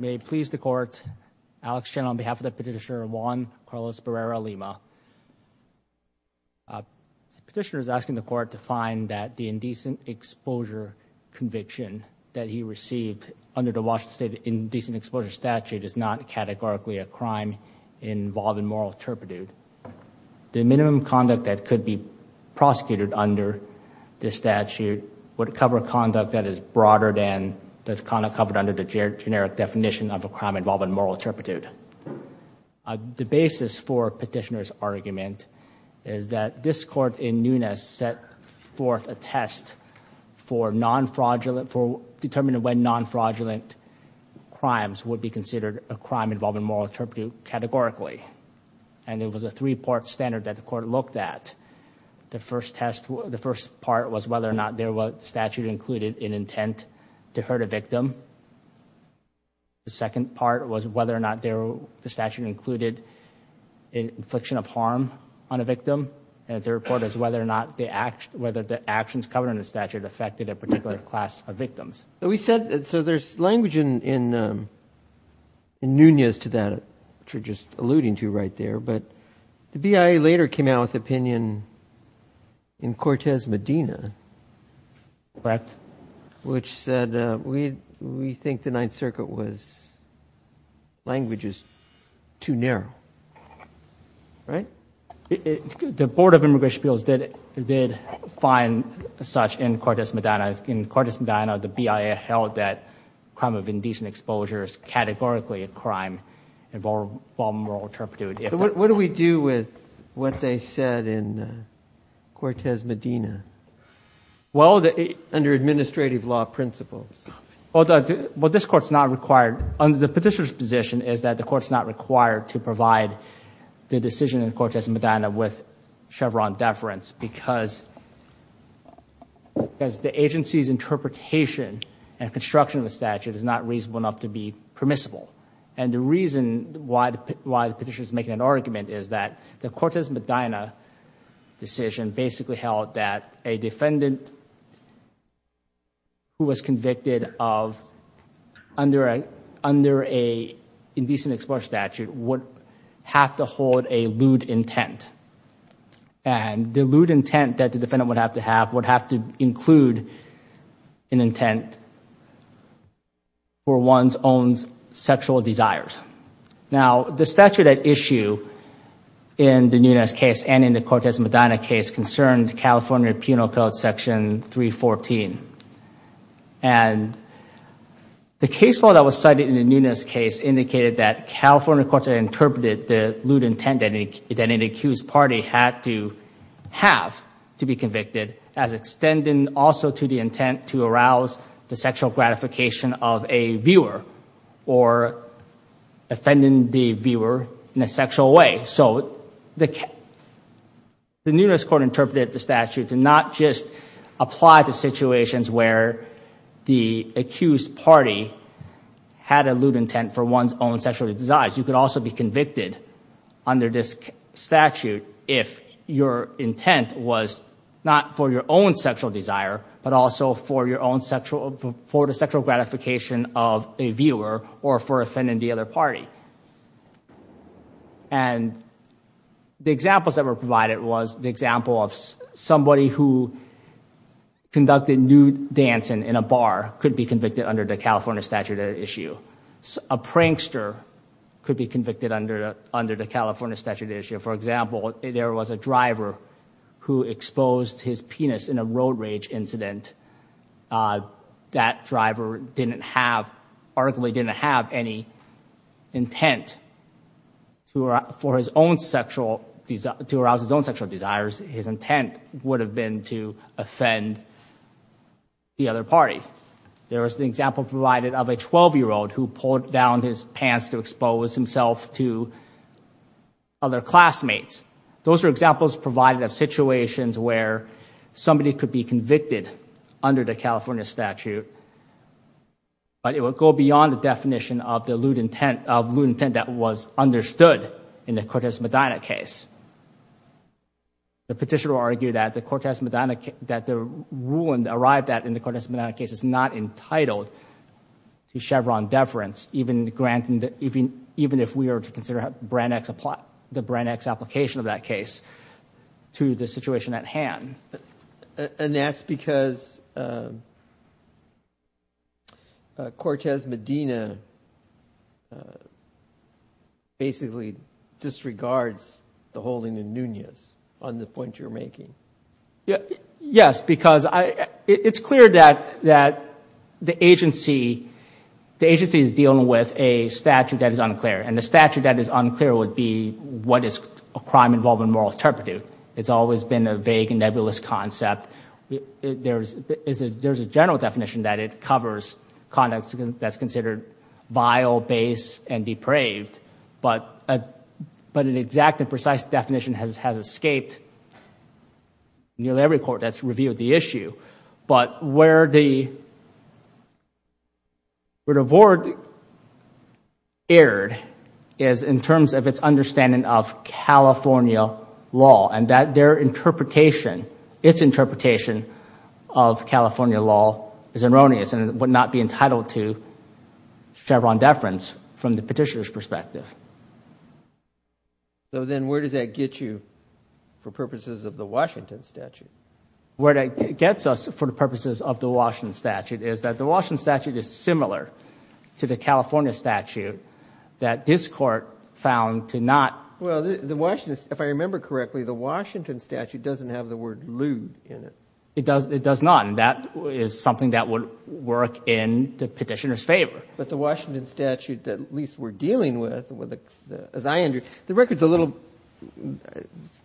May it please the court, Alex Chen on behalf of the petitioner Juan Carlos Barrera-Lima. The petitioner is asking the court to find that the indecent exposure conviction that he received under the Washington State indecent exposure statute is not categorically a crime involving moral turpitude. The minimum conduct that could be prosecuted under this statute would cover conduct that is broader than the kind of covered under the generic definition of a crime involving moral turpitude. The basis for petitioner's argument is that this court in Nunes set forth a test for non-fraudulent, for determining when non-fraudulent crimes would be considered a crime involving moral turpitude categorically. And it was a three-part standard that the court looked at. The first part was whether or not the statute included an intent to hurt a victim. The second part was whether or not the statute included an infliction of harm on a victim. And the third part is whether or not the actions covered under the statute affected a particular class of victims. So there's language in Nunes to that, which you're just alluding to right there. But the BIA later came out with opinion in Cortez Medina. Correct. Which said, we think the Ninth Circuit was, language is too narrow. Right? The Board of Immigration Appeals did find such in Cortez Medina. In Cortez Medina, the BIA held that crime of indecent exposure is categorically a crime involving moral turpitude. What do we do with what they said in Cortez Medina? Well, under administrative law principles. Well, this court's not required. The petitioner's position is that the court's not required to provide the decision in Cortez Medina with Chevron deference because the agency's interpretation and construction of the statute is not reasonable enough to be permissible. The reason why the petitioner's making an argument is that the Cortez Medina decision basically held that a defendant who was convicted under an indecent exposure statute would have to hold a lewd intent. The lewd intent that the defendant would have to have would have to include an intent for one's own sexual desires. Now, the statute at issue in the Nunez case and in the Cortez Medina case concerned California Penal Code Section 314. And the case law that was cited in the Nunez case indicated that California courts interpreted the lewd intent that an accused party had to have to be convicted as extending also to the intent to arouse the sexual gratification of a viewer or offending the viewer in a sexual way. So the Nunez court interpreted the statute to not just apply to situations where the accused party had a lewd intent for one's own sexual desires. You could also be convicted under this statute if your intent was not for your own sexual desire but also for the sexual gratification of a viewer or for offending the other party. And the examples that were provided was the example of somebody who conducted nude dancing in a bar could be convicted under the California statute at issue. A prankster could be convicted under the California statute at issue. For example, there was a driver who exposed his penis in a road rage incident. That driver arguably didn't have any intent to arouse his own sexual desires. His intent would have been to offend the other party. There was an example provided of a 12-year-old who pulled down his pants to expose himself to other classmates. Those are examples provided of situations where somebody could be convicted under the California statute but it would go beyond the definition of the lewd intent that was understood in the Cortez Medina case. The petitioner argued that the ruling arrived at in the Cortez Medina case is not entitled to Chevron deference even if we are to consider the Brand X application of that case to the situation at hand. And that's because Cortez Medina basically disregards the holding in Nunez on the point you're making. Yes, because it's clear that the agency is dealing with a statute that is unclear. And the statute that is unclear would be what is a crime involving moral interpretive. It's always been a vague and nebulous concept. There's a general definition that it covers conduct that's considered vile, base, and depraved. But an exact and precise definition has escaped nearly every court that's reviewed the issue. But where the board erred is in terms of its understanding of California law and that their interpretation, its interpretation of California law is erroneous and it would not be entitled to Chevron deference from the petitioner's perspective. So then where does that get you for purposes of the Washington statute? Where that gets us for the purposes of the Washington statute is that the Washington statute is similar to the California statute that this Court found to not. Well, the Washington, if I remember correctly, the Washington statute doesn't have the word lewd in it. It does not, and that is something that would work in the petitioner's favor. But the Washington statute that at least we're dealing with, as I understand, the record's a little,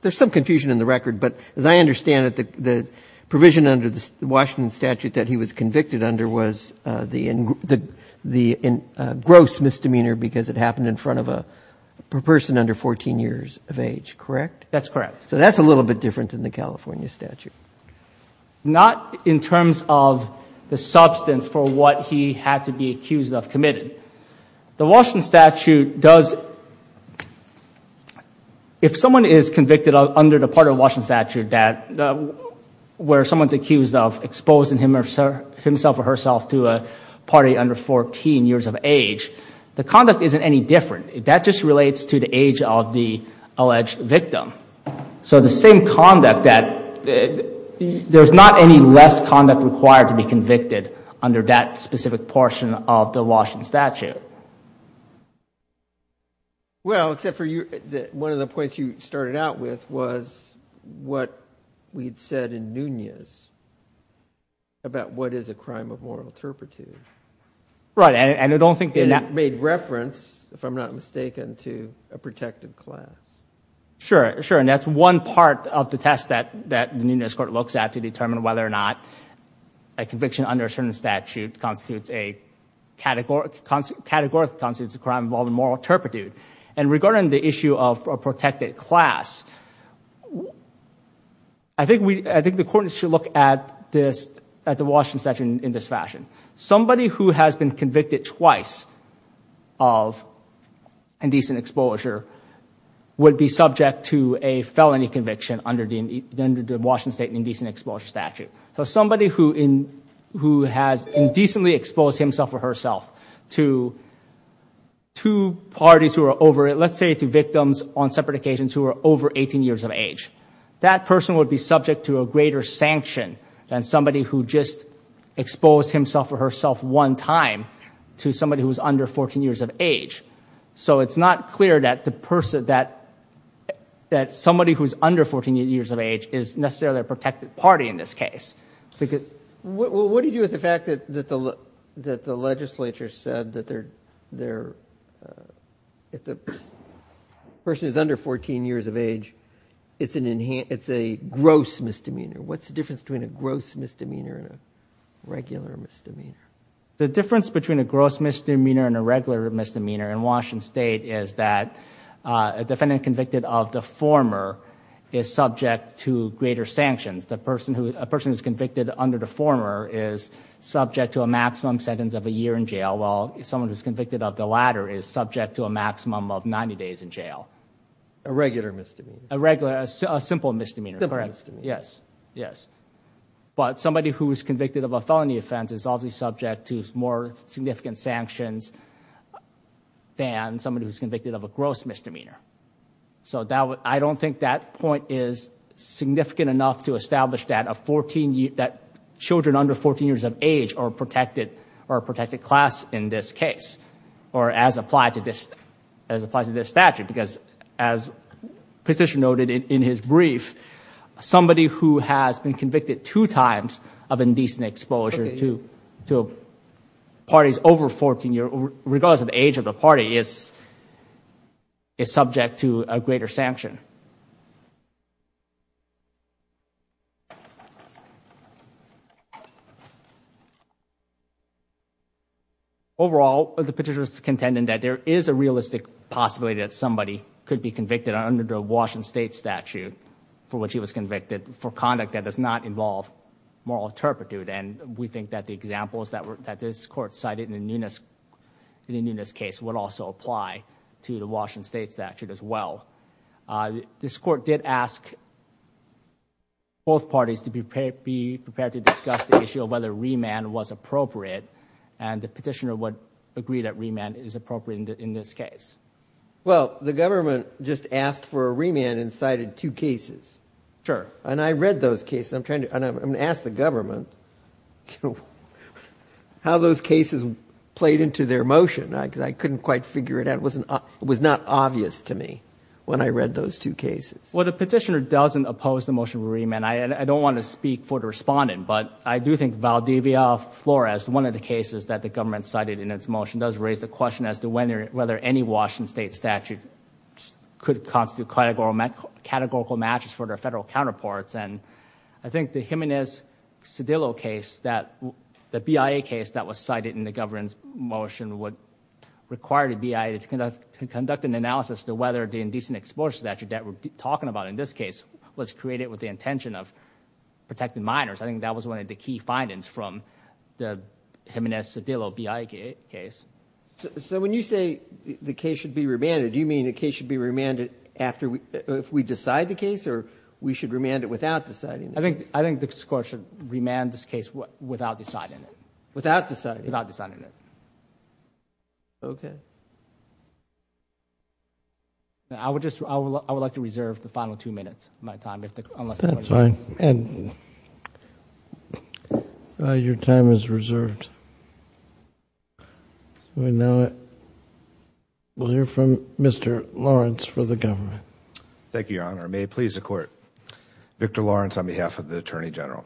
there's some confusion in the record, but as I understand it, the provision under the Washington statute that he was convicted under was the gross misdemeanor because it happened in front of a person under 14 years of age, correct? That's correct. So that's a little bit different than the California statute. Not in terms of the substance for what he had to be accused of committing. The Washington statute does, if someone is convicted under the part of the Washington statute where someone's accused of exposing himself or herself to a party under 14 years of age, the conduct isn't any different. That just relates to the age of the alleged victim. So the same conduct that, there's not any less conduct required to be convicted under that specific portion of the Washington statute. Well, except for one of the points you started out with was what we'd said in Nunez about what is a crime of moral turpitude. Right, and I don't think... It made reference, if I'm not mistaken, to a protective class. Sure, sure, and that's one part of the test that the Nunez court looks at to determine whether or not a conviction under a certain statute constitutes a category, constitutes a crime involving moral turpitude. And regarding the issue of a protected class, I think the court should look at the Washington statute in this fashion. Somebody who has been convicted twice of indecent exposure would be subject to a felony conviction under the Washington State Indecent Exposure Statute. So somebody who has indecently exposed himself or herself to two parties who are over, let's say to victims on separate occasions who are over 18 years of age, that person would be subject to a greater sanction than somebody who just exposed himself or herself one time to somebody who is under 14 years of age. So it's not clear that somebody who is under 14 years of age is necessarily a protected party in this case. What do you do with the fact that the legislature said that if the person is under 14 years of age, it's a gross misdemeanor? What's the difference between a gross misdemeanor and a regular misdemeanor? The difference between a gross misdemeanor and a regular misdemeanor in Washington State is that a defendant convicted of the former is subject to greater sanctions. A person who is convicted under the former is subject to a maximum sentence of a year in jail while someone who is convicted of the latter is subject to a maximum of 90 days in jail. A regular misdemeanor? A regular, a simple misdemeanor. Simple misdemeanor. Yes, yes. But somebody who is convicted of a felony offense is obviously subject to more significant sanctions than somebody who is convicted of a gross misdemeanor. So I don't think that point is significant enough to establish that children under 14 years of age are a protected class in this case or as applied to this statute because as Petitioner noted in his brief, somebody who has been convicted two times of indecent exposure to parties over 14 years, regardless of the age of the party, is subject to a greater sanction. Overall, the Petitioner is contending that there is a realistic possibility that somebody could be convicted under the Washington State statute for which he was convicted for conduct that does not involve moral turpitude and we think that the examples that this court cited in the Nunes case would also apply to the Washington State statute as well. This court did ask both parties to be prepared to discuss the issue of whether remand was appropriate and the Petitioner would agree that remand is appropriate in this case. Well, the government just asked for a remand and cited two cases. Sure. And I read those cases. I'm going to ask the government how those cases played into their motion because I couldn't quite figure it out. It was not obvious to me when I read those two cases. Well, the Petitioner doesn't oppose the motion of remand. I don't want to speak for the respondent, but I do think Valdivia Flores, one of the cases that the government cited in its motion, does raise the question as to whether any Washington State statute could constitute categorical matches for their federal counterparts and I think the Jimenez-Cedillo case, the BIA case that was cited in the government's motion would require the BIA to conduct an analysis to whether the indecent exposure statute that we're talking about in this case was created with the intention of protecting minors. I think that was one of the key findings from the Jimenez-Cedillo BIA case. So when you say the case should be remanded, do you mean the case should be remanded if we decide the case or we should remand it without deciding it? I think the court should remand this case without deciding it. Without deciding it? Okay. I would like to reserve the final two minutes of my time. That's fine. Your time is reserved. We'll hear from Mr. Lawrence for the government. Thank you, Your Honor. May it please the Court. Victor Lawrence on behalf of the Attorney General.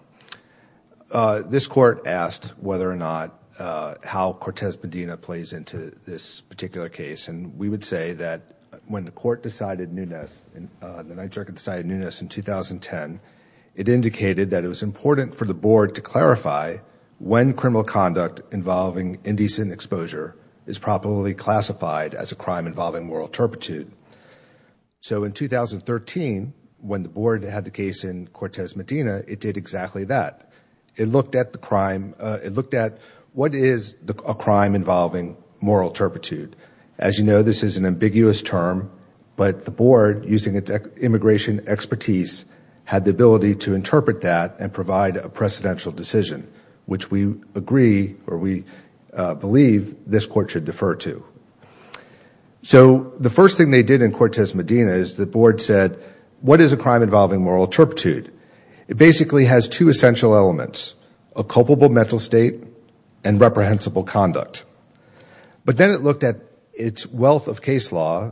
This court asked whether or not how Cortez Medina plays into this particular case and we would say that when the court decided Nunes, the Ninth Circuit decided Nunes in 2010, it indicated that it was important for the board to clarify when criminal conduct involving indecent exposure is properly classified as a crime involving moral turpitude. So in 2013, when the board had the case in Cortez Medina, it did exactly that. It looked at what is a crime involving moral turpitude. As you know, this is an ambiguous term, but the board, using its immigration expertise, had the ability to interpret that and provide a precedential decision, which we agree or we believe this court should defer to. So the first thing they did in Cortez Medina is the board said, what is a crime involving moral turpitude? It basically has two essential elements, a culpable mental state and reprehensible conduct. But then it looked at its wealth of case law,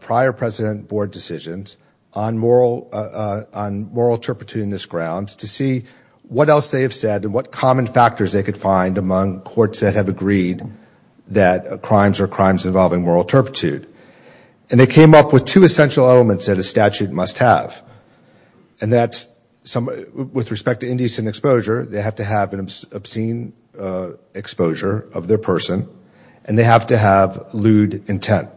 prior president board decisions on moral turpitude in this grounds to see what else they have said and what common factors they could find among courts that have agreed that crimes are crimes involving moral turpitude. And they came up with two essential elements that a statute must have and that's with respect to indecent exposure, they have to have an obscene exposure of their person and they have to have lewd intent.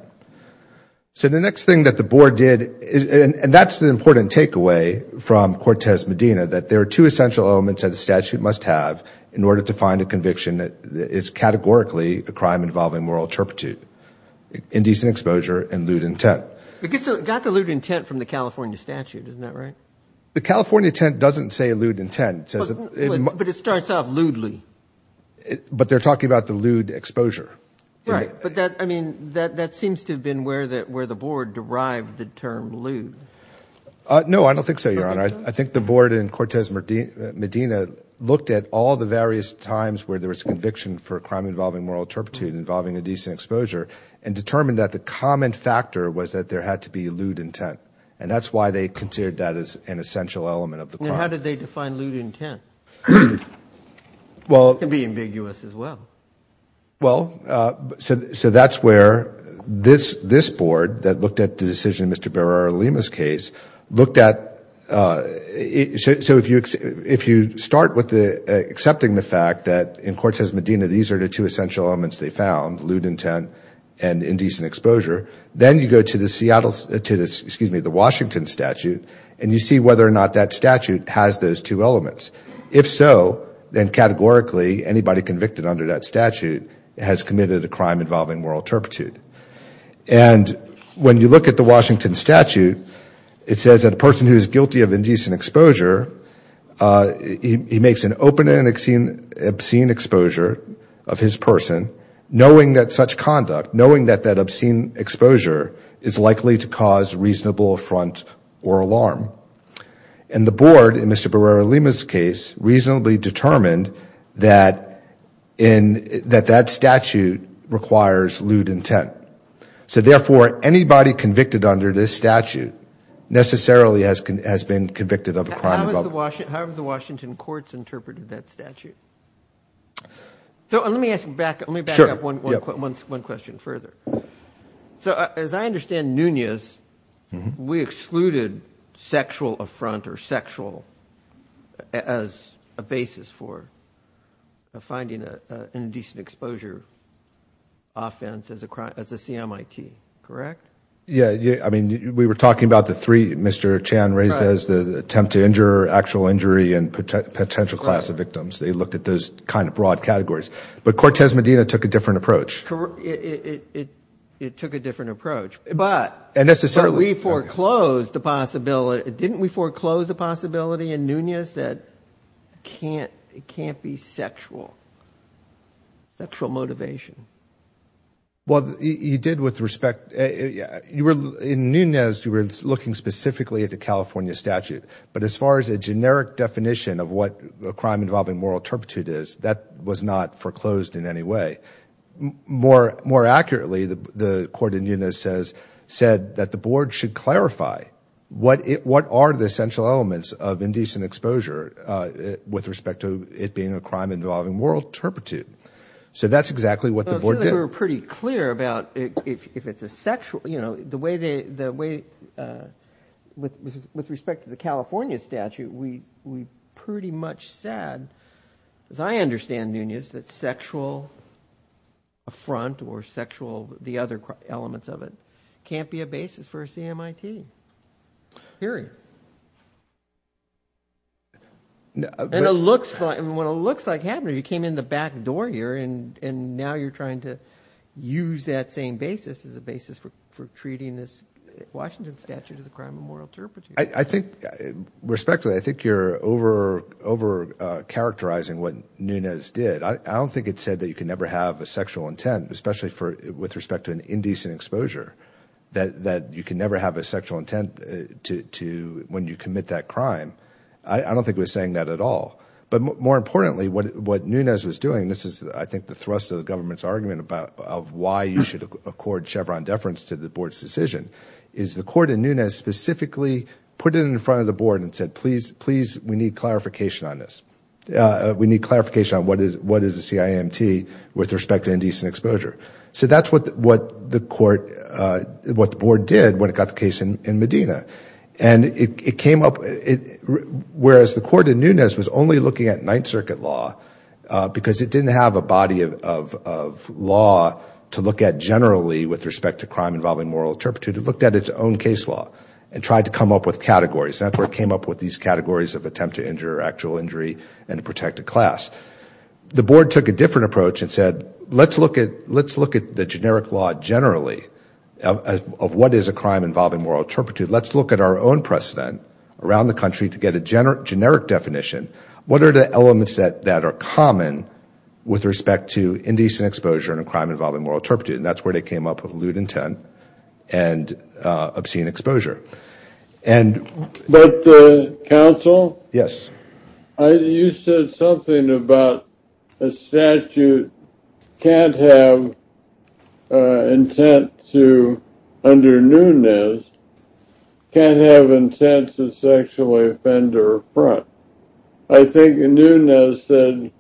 So the next thing that the board did, and that's the important takeaway from Cortez Medina, that there are two essential elements that a statute must have in order to find a conviction that is categorically a crime involving moral turpitude, indecent exposure and lewd intent. It got the lewd intent from the California statute, isn't that right? The California intent doesn't say lewd intent. But it starts off lewdly. But they're talking about the lewd exposure. Right, but that seems to have been where the board derived the term lewd. No, I don't think so, Your Honor. I think the board in Cortez Medina looked at all the various times where there was conviction for a crime involving moral turpitude involving indecent exposure and determined that the common factor was that there had to be lewd intent. And that's why they considered that as an essential element of the crime. Then how did they define lewd intent? It can be ambiguous as well. Well, so that's where this board that looked at the decision in Mr. Barrera-Lima's case, looked at so if you start with accepting the fact that in Cortez Medina these are the two essential elements they found, lewd intent and indecent exposure, then you go to the Washington statute and you see whether or not that statute has those two elements. If so, then categorically anybody convicted under that statute has committed a crime involving moral turpitude. And when you look at the Washington statute, it says that a person who is guilty of indecent exposure, he makes an open and obscene exposure of his person, knowing that such conduct, knowing that that obscene exposure is likely to cause reasonable affront or alarm. And the board in Mr. Barrera-Lima's case reasonably determined that that statute requires lewd intent. So therefore anybody convicted under this statute necessarily has been convicted of a crime involving moral turpitude. How have the Washington courts interpreted that statute? So let me back up one question further. So as I understand Nunez, we excluded sexual affront or sexual as a basis for finding an indecent exposure offense as a CMIT, correct? Yeah. I mean, we were talking about the three Mr. Chan raises, the attempt to injure, actual injury, and potential class of victims. They looked at those kind of broad categories. But Cortez Medina took a different approach. It took a different approach. But we foreclosed the possibility. Didn't we foreclose the possibility in Nunez that it can't be sexual, sexual motivation? Well, you did with respect. In Nunez, you were looking specifically at the California statute. But as far as a generic definition of what a crime involving moral turpitude is, that was not foreclosed in any way. More accurately, the court in Nunez said that the board should clarify what are the essential elements of indecent exposure with respect to it being a crime involving moral turpitude. So that's exactly what the board did. I feel like we were pretty clear about if it's a sexual, you know, the way with respect to the California statute, we pretty much said, as I understand Nunez, that sexual affront or sexual, the other elements of it, can't be a basis for a CMIT, period. And it looks like, when it looks like happening, you came in the back door here and now you're trying to use that same basis as a basis for treating this Washington statute as a crime of moral turpitude. I think, respectfully, I think you're overcharacterizing what Nunez did. I don't think it said that you can never have a sexual intent, especially with respect to an indecent exposure, that you can never have a sexual intent when you commit that crime. I don't think it was saying that at all. But more importantly, what Nunez was doing, this is, I think, the thrust of the government's argument about why you should accord Chevron deference to the board's decision, is the court in Nunez specifically put it in front of the board and said, please, please, we need clarification on this. We need clarification on what is a CIMT with respect to indecent exposure. So that's what the court, what the board did when it got the case in Medina. And it came up, whereas the court in Nunez was only looking at Ninth Circuit law, because it didn't have a body of law to look at generally with respect to crime involving moral turpitude. It looked at its own case law and tried to come up with categories. That's where it came up with these categories of attempt to injure, actual injury, and to protect a class. The board took a different approach and said, let's look at the generic law generally of what is a crime involving moral turpitude. Let's look at our own precedent around the country to get a generic definition. What are the elements that are common with respect to indecent exposure and a crime involving moral turpitude? And that's where they came up with lewd intent and obscene exposure. But, counsel? Yes. You said something about a statute can't have intent to, under Nunez, can't have intent to sexually offend or affront. I think Nunez said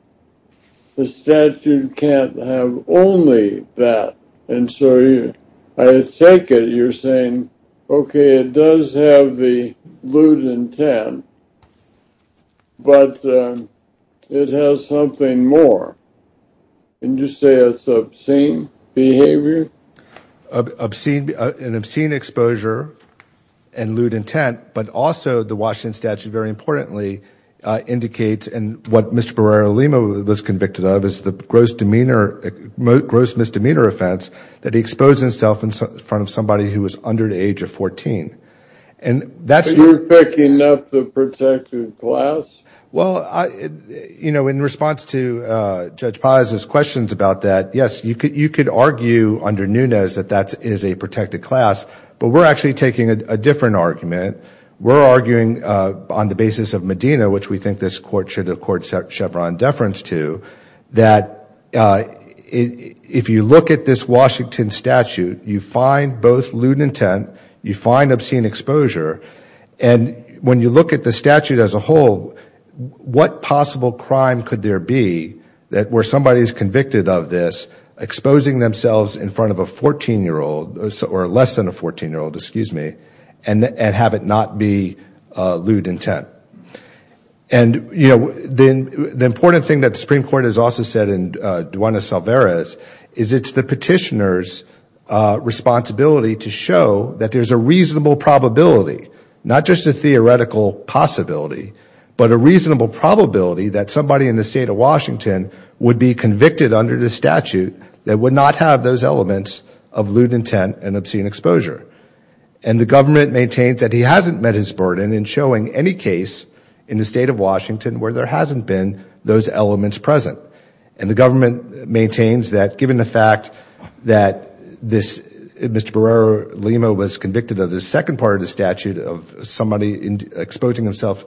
the statute can't have only that. And so I take it you're saying, okay, it does have the lewd intent, but it has something more. And you say it's obscene behavior? An obscene exposure and lewd intent, but also the Washington statute, very importantly, indicates, and what Mr. Barrera-Lima was convicted of, was the gross misdemeanor offense that he exposed himself in front of somebody who was under the age of 14. You're picking up the protected class? Well, in response to Judge Paz's questions about that, yes, you could argue under Nunez that that is a protected class, but we're actually taking a different argument. We're arguing on the basis of Medina, which we think this Court should accord Chevron deference to, that if you look at this Washington statute, you find both lewd intent, you find obscene exposure, and when you look at the statute as a whole, what possible crime could there be where somebody is convicted of this, exposing themselves in front of a 14-year-old, or less than a 14-year-old, excuse me, and have it not be lewd intent? And, you know, the important thing that the Supreme Court has also said in Duana Salveres is it's the petitioner's responsibility to show that there's a reasonable probability, not just a theoretical possibility, but a reasonable probability that somebody in the state of Washington would be convicted under this statute that would not have those elements of lewd intent and obscene exposure. And the government maintains that he hasn't met his burden in showing any case in the state of Washington where there hasn't been those elements present. And the government maintains that given the fact that this, Mr. Barrera Lima, was convicted of the second part of the statute of somebody exposing himself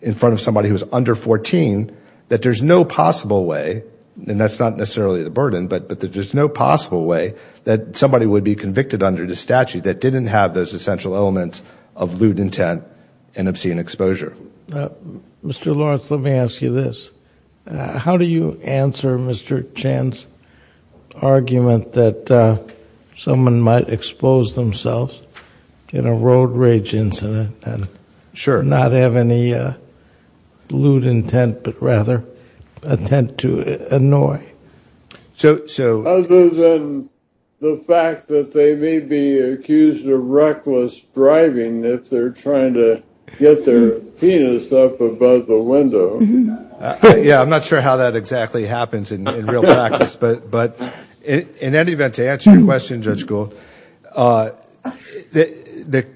in front of somebody who was under 14, that there's no possible way, and that's not necessarily the burden, but there's no possible way that somebody would be convicted under the statute that didn't have those essential elements of lewd intent and obscene exposure. Mr. Lawrence, let me ask you this. How do you answer Mr. Chan's argument that someone might expose themselves in a road rage incident and not have any lewd intent, but rather attempt to annoy? Other than the fact that they may be accused of reckless driving if they're trying to get their penis up above the window. Yeah, I'm not sure how that exactly happens in real practice, but in any event, to answer your question, Judge Gould,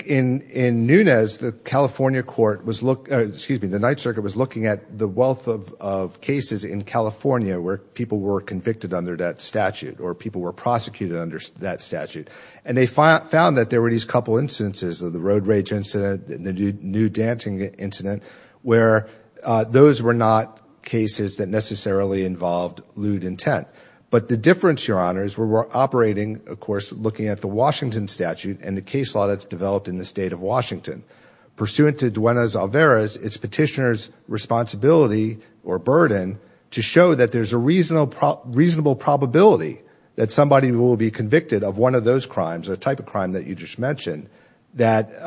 in Nunez, the California court was looking at the wealth of cases in California where people were convicted under that statute or people were prosecuted under that statute. And they found that there were these couple of instances of the road rage incident, the nude dancing incident, where those were not cases that necessarily involved lewd intent. But the difference, Your Honor, is we're operating, of course, looking at the Washington statute and the case law that's developed in the state of Washington. Pursuant to Duenas-Alvarez, it's petitioner's responsibility or burden to show that there's a reasonable probability that somebody will be convicted of one of those crimes, a type of crime that you just mentioned, that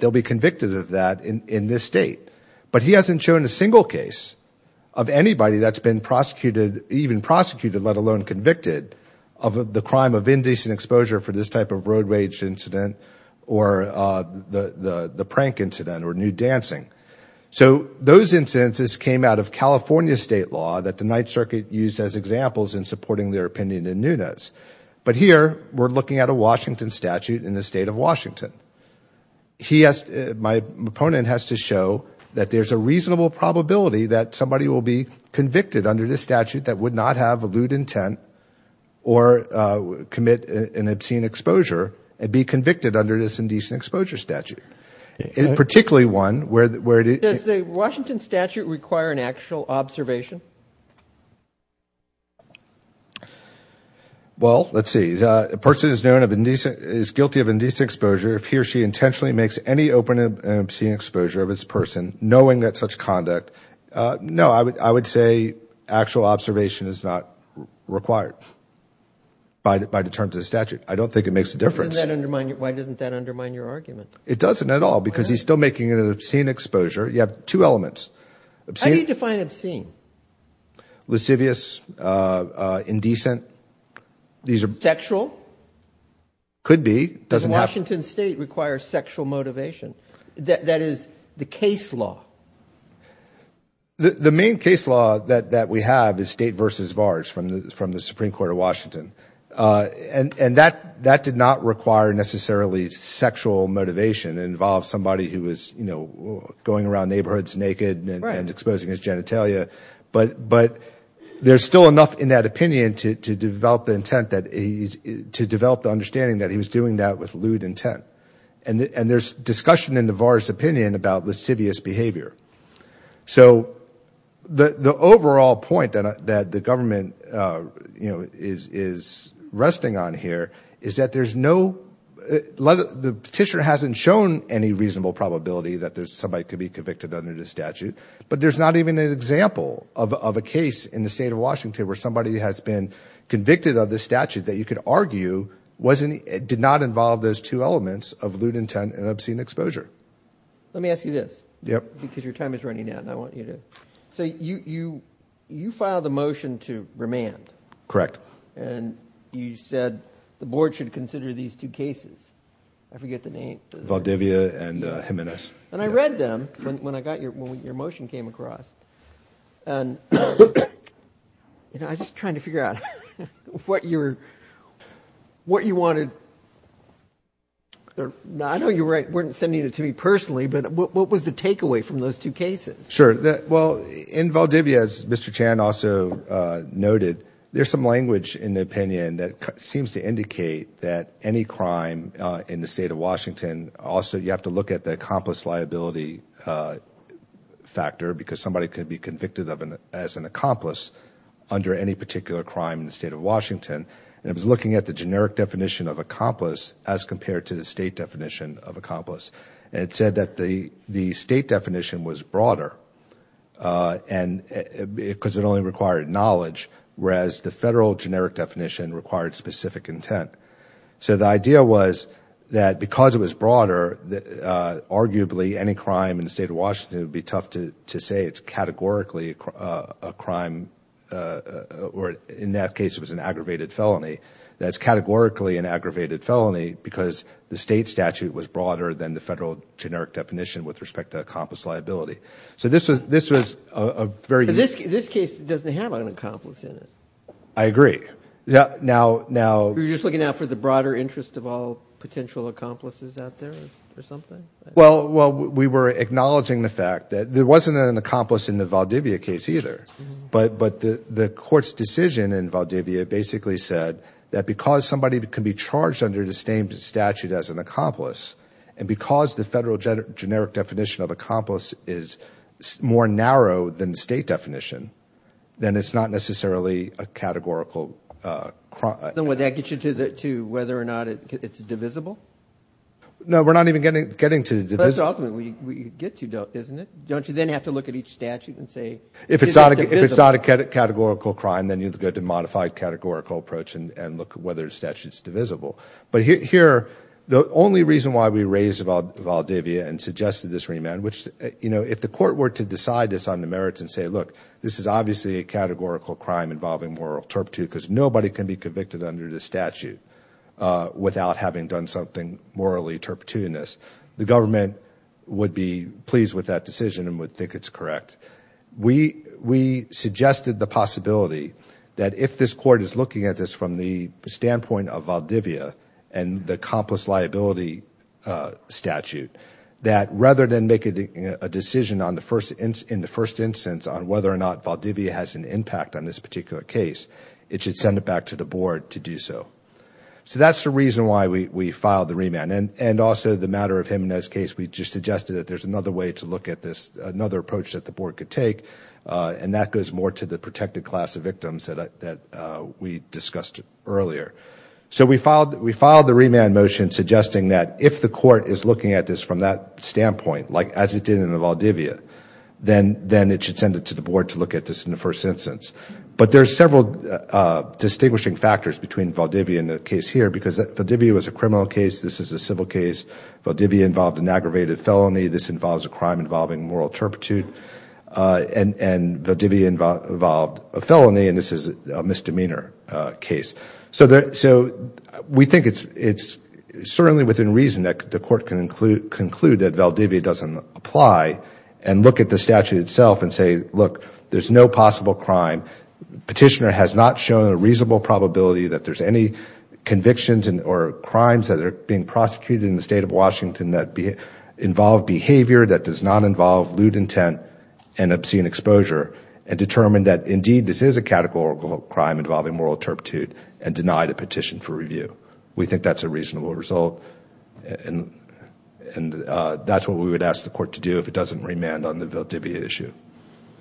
they'll be convicted of that in this state. But he hasn't shown a single case of anybody that's been prosecuted, even prosecuted, let alone convicted of the crime of indecent exposure for this type of road rage incident or the prank incident or nude dancing. So those instances came out of California state law that the Ninth Circuit used as examples in supporting their opinion in Nunez. But here, we're looking at a Washington statute in the state of Washington. My opponent has to show that there's a reasonable probability that somebody will be convicted under this statute that would not have a lewd intent or commit an obscene exposure and be convicted under this indecent exposure statute, particularly one where it is... Does the Washington statute require an actual observation? Well, let's see. A person is guilty of indecent exposure if he or she intentionally makes any open and obscene exposure of this person knowing that such conduct... No, I would say actual observation is not required by the terms of the statute. I don't think it makes a difference. Why doesn't that undermine your argument? It doesn't at all because he's still making an obscene exposure. You have two elements. How do you define obscene? Lascivious, indecent. Sexual? Could be. Washington state requires sexual motivation. That is the case law. The main case law that we have is state versus vars from the Supreme Court of Washington. And that did not require necessarily sexual motivation. It involved somebody who was going around neighborhoods naked and exposing his genitalia. But there's still enough in that opinion to develop the intent that he's... to develop the understanding that he was doing that with lewd intent. And there's discussion in the vars' opinion about lascivious behavior. So the overall point that the government is resting on here is that there's no... The petitioner hasn't shown any reasonable probability that somebody could be convicted under this statute. But there's not even an example of a case in the state of Washington where somebody has been convicted of this statute that you could argue did not involve those two elements of lewd intent and obscene exposure. Let me ask you this. Because your time is running out and I want you to... So you filed a motion to remand. Correct. And you said the board should consider these two cases. I forget the name. Valdivia and Jimenez. And I read them when your motion came across. And I was just trying to figure out what you wanted... I know you weren't sending it to me personally, but what was the takeaway from those two cases? Sure. Well, in Valdivia, as Mr. Chan also noted, there's some language in the opinion that seems to indicate that any crime in the state of Washington also... You have to look at the accomplice liability factor because somebody could be convicted as an accomplice under any particular crime in the state of Washington. And I was looking at the generic definition of accomplice as compared to the state definition of accomplice. And it said that the state definition was broader because it only required knowledge, whereas the federal generic definition required specific intent. So the idea was that because it was broader, arguably any crime in the state of Washington would be tough to say it's categorically a crime or in that case it was an aggravated felony. That's categorically an aggravated felony because the state statute was broader than the federal generic definition with respect to accomplice liability. So this was a very... But this case doesn't have an accomplice in it. I agree. You're just looking out for the broader interest of all potential accomplices out there or something? Well, we were acknowledging the fact that there wasn't an accomplice in the Valdivia case either. But the court's decision in Valdivia basically said that because somebody can be charged under the same statute as an accomplice, and because the federal generic definition of accomplice is more narrow than the state definition, then it's not necessarily a categorical crime. Then would that get you to whether or not it's divisible? No, we're not even getting to divisible. That's ultimately what you get to, isn't it? Don't you then have to look at each statute and say, is it divisible? If it's not a categorical crime, then you have to go to a modified categorical approach and look at whether the statute's divisible. But here, the only reason why we raised Valdivia and suggested this remand, which if the court were to decide this on the merits and say, look, this is obviously a categorical crime involving moral turpitude because nobody can be convicted under this statute without having done something morally turpitudinous, the government would be pleased with that decision and would think it's correct. We suggested the possibility that if this court is looking at this from the standpoint of Valdivia and the accomplice liability statute, that rather than making a decision in the first instance on whether or not Valdivia has an impact on this particular case, it should send it back to the board to do so. So that's the reason why we filed the remand. And also the matter of Jimenez's case, we just suggested that there's another way to look at this, another approach that the board could take, and that goes more to the protected class of victims that we discussed earlier. So we filed the remand motion suggesting that if the court is looking at this from that standpoint, like as it did in Valdivia, then it should send it to the board to look at this in the first instance. But there's several distinguishing factors between Valdivia and the case here, because Valdivia was a criminal case, this is a civil case, Valdivia involved an aggravated felony, this involves a crime involving moral turpitude, and Valdivia involved a felony, and this is a misdemeanor case. So we think it's certainly within reason that the court can conclude that Valdivia doesn't apply and look at the statute itself and say, look, there's no possible crime, petitioner has not shown a reasonable probability that there's any convictions or crimes that are being prosecuted in the state of Washington that involve behavior that does not involve lewd intent and obscene exposure, and determine that indeed this is a categorical crime involving moral turpitude and deny the petition for review. We think that's a reasonable result, and that's what we would ask the court to do if it doesn't remand on the Valdivia issue.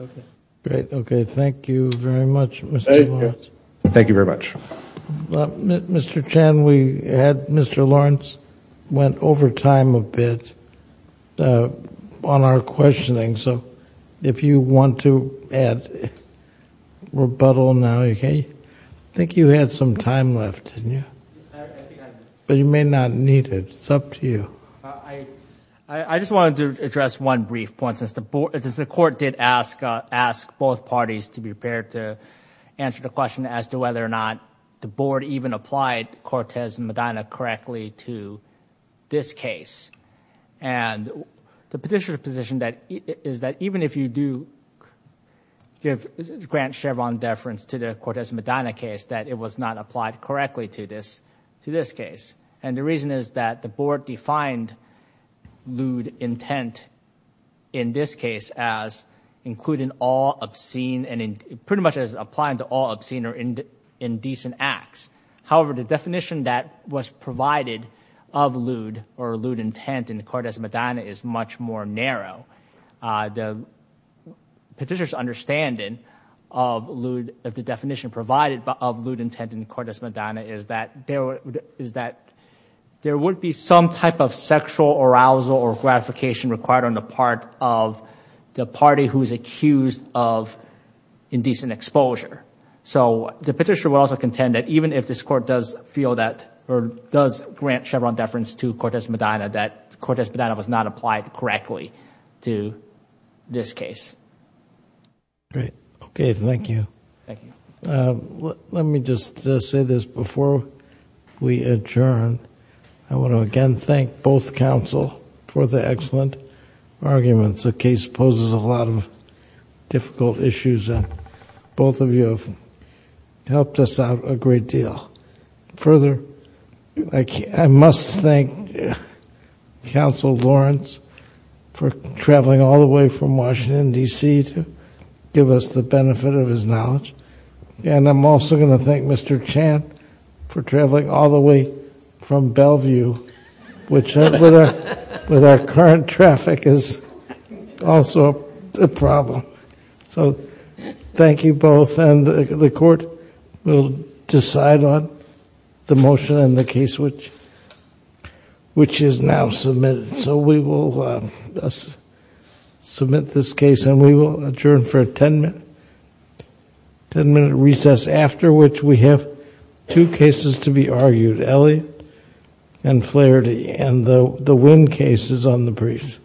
Okay. Great. Okay. Thank you very much, Mr. Lawrence. Thank you very much. Mr. Chen, we had Mr. Lawrence went over time a bit on our questioning, so if you want to add rebuttal now, I think you had some time left, didn't you? I think I did. But you may not need it. It's up to you. I just wanted to address one brief point since the court did ask both parties to be prepared to answer the question as to whether or not the board even applied Cortez and Medina correctly to this case, and the petitioner's position is that even if you do grant Chevron deference to the Cortez and Medina case, that it was not applied correctly to this case, and the reason is that the board defined lewd intent in this case as including all obscene and pretty much as applying to all obscene or indecent acts. However, the definition that was provided of lewd or lewd intent in Cortez and Medina is much more narrow. The petitioner's understanding of the definition provided of lewd intent in Cortez and Medina is that there would be some type of sexual arousal or gratification required on the part of the party who is accused of indecent exposure. So the petitioner will also contend that even if this court does grant Chevron deference to Cortez and Medina, that Cortez and Medina was not applied correctly to this case. Great. Okay, thank you. Let me just say this. Before we adjourn, I want to again thank both counsel for the excellent arguments. The case poses a lot of difficult issues, and both of you have helped us out a great deal. Further, I must thank counsel Lawrence for traveling all the way from Washington, D.C., to give us the benefit of his knowledge, and I'm also going to thank Mr. Chant for traveling all the way from Bellevue, which with our current traffic is also a problem. So thank you both, and the court will decide on the motion and the case which is now submitted. So we will submit this case, and we will adjourn for a ten-minute recess, after which we have two cases to be argued, Elie and Flaherty, and the Wynn case is on the briefs.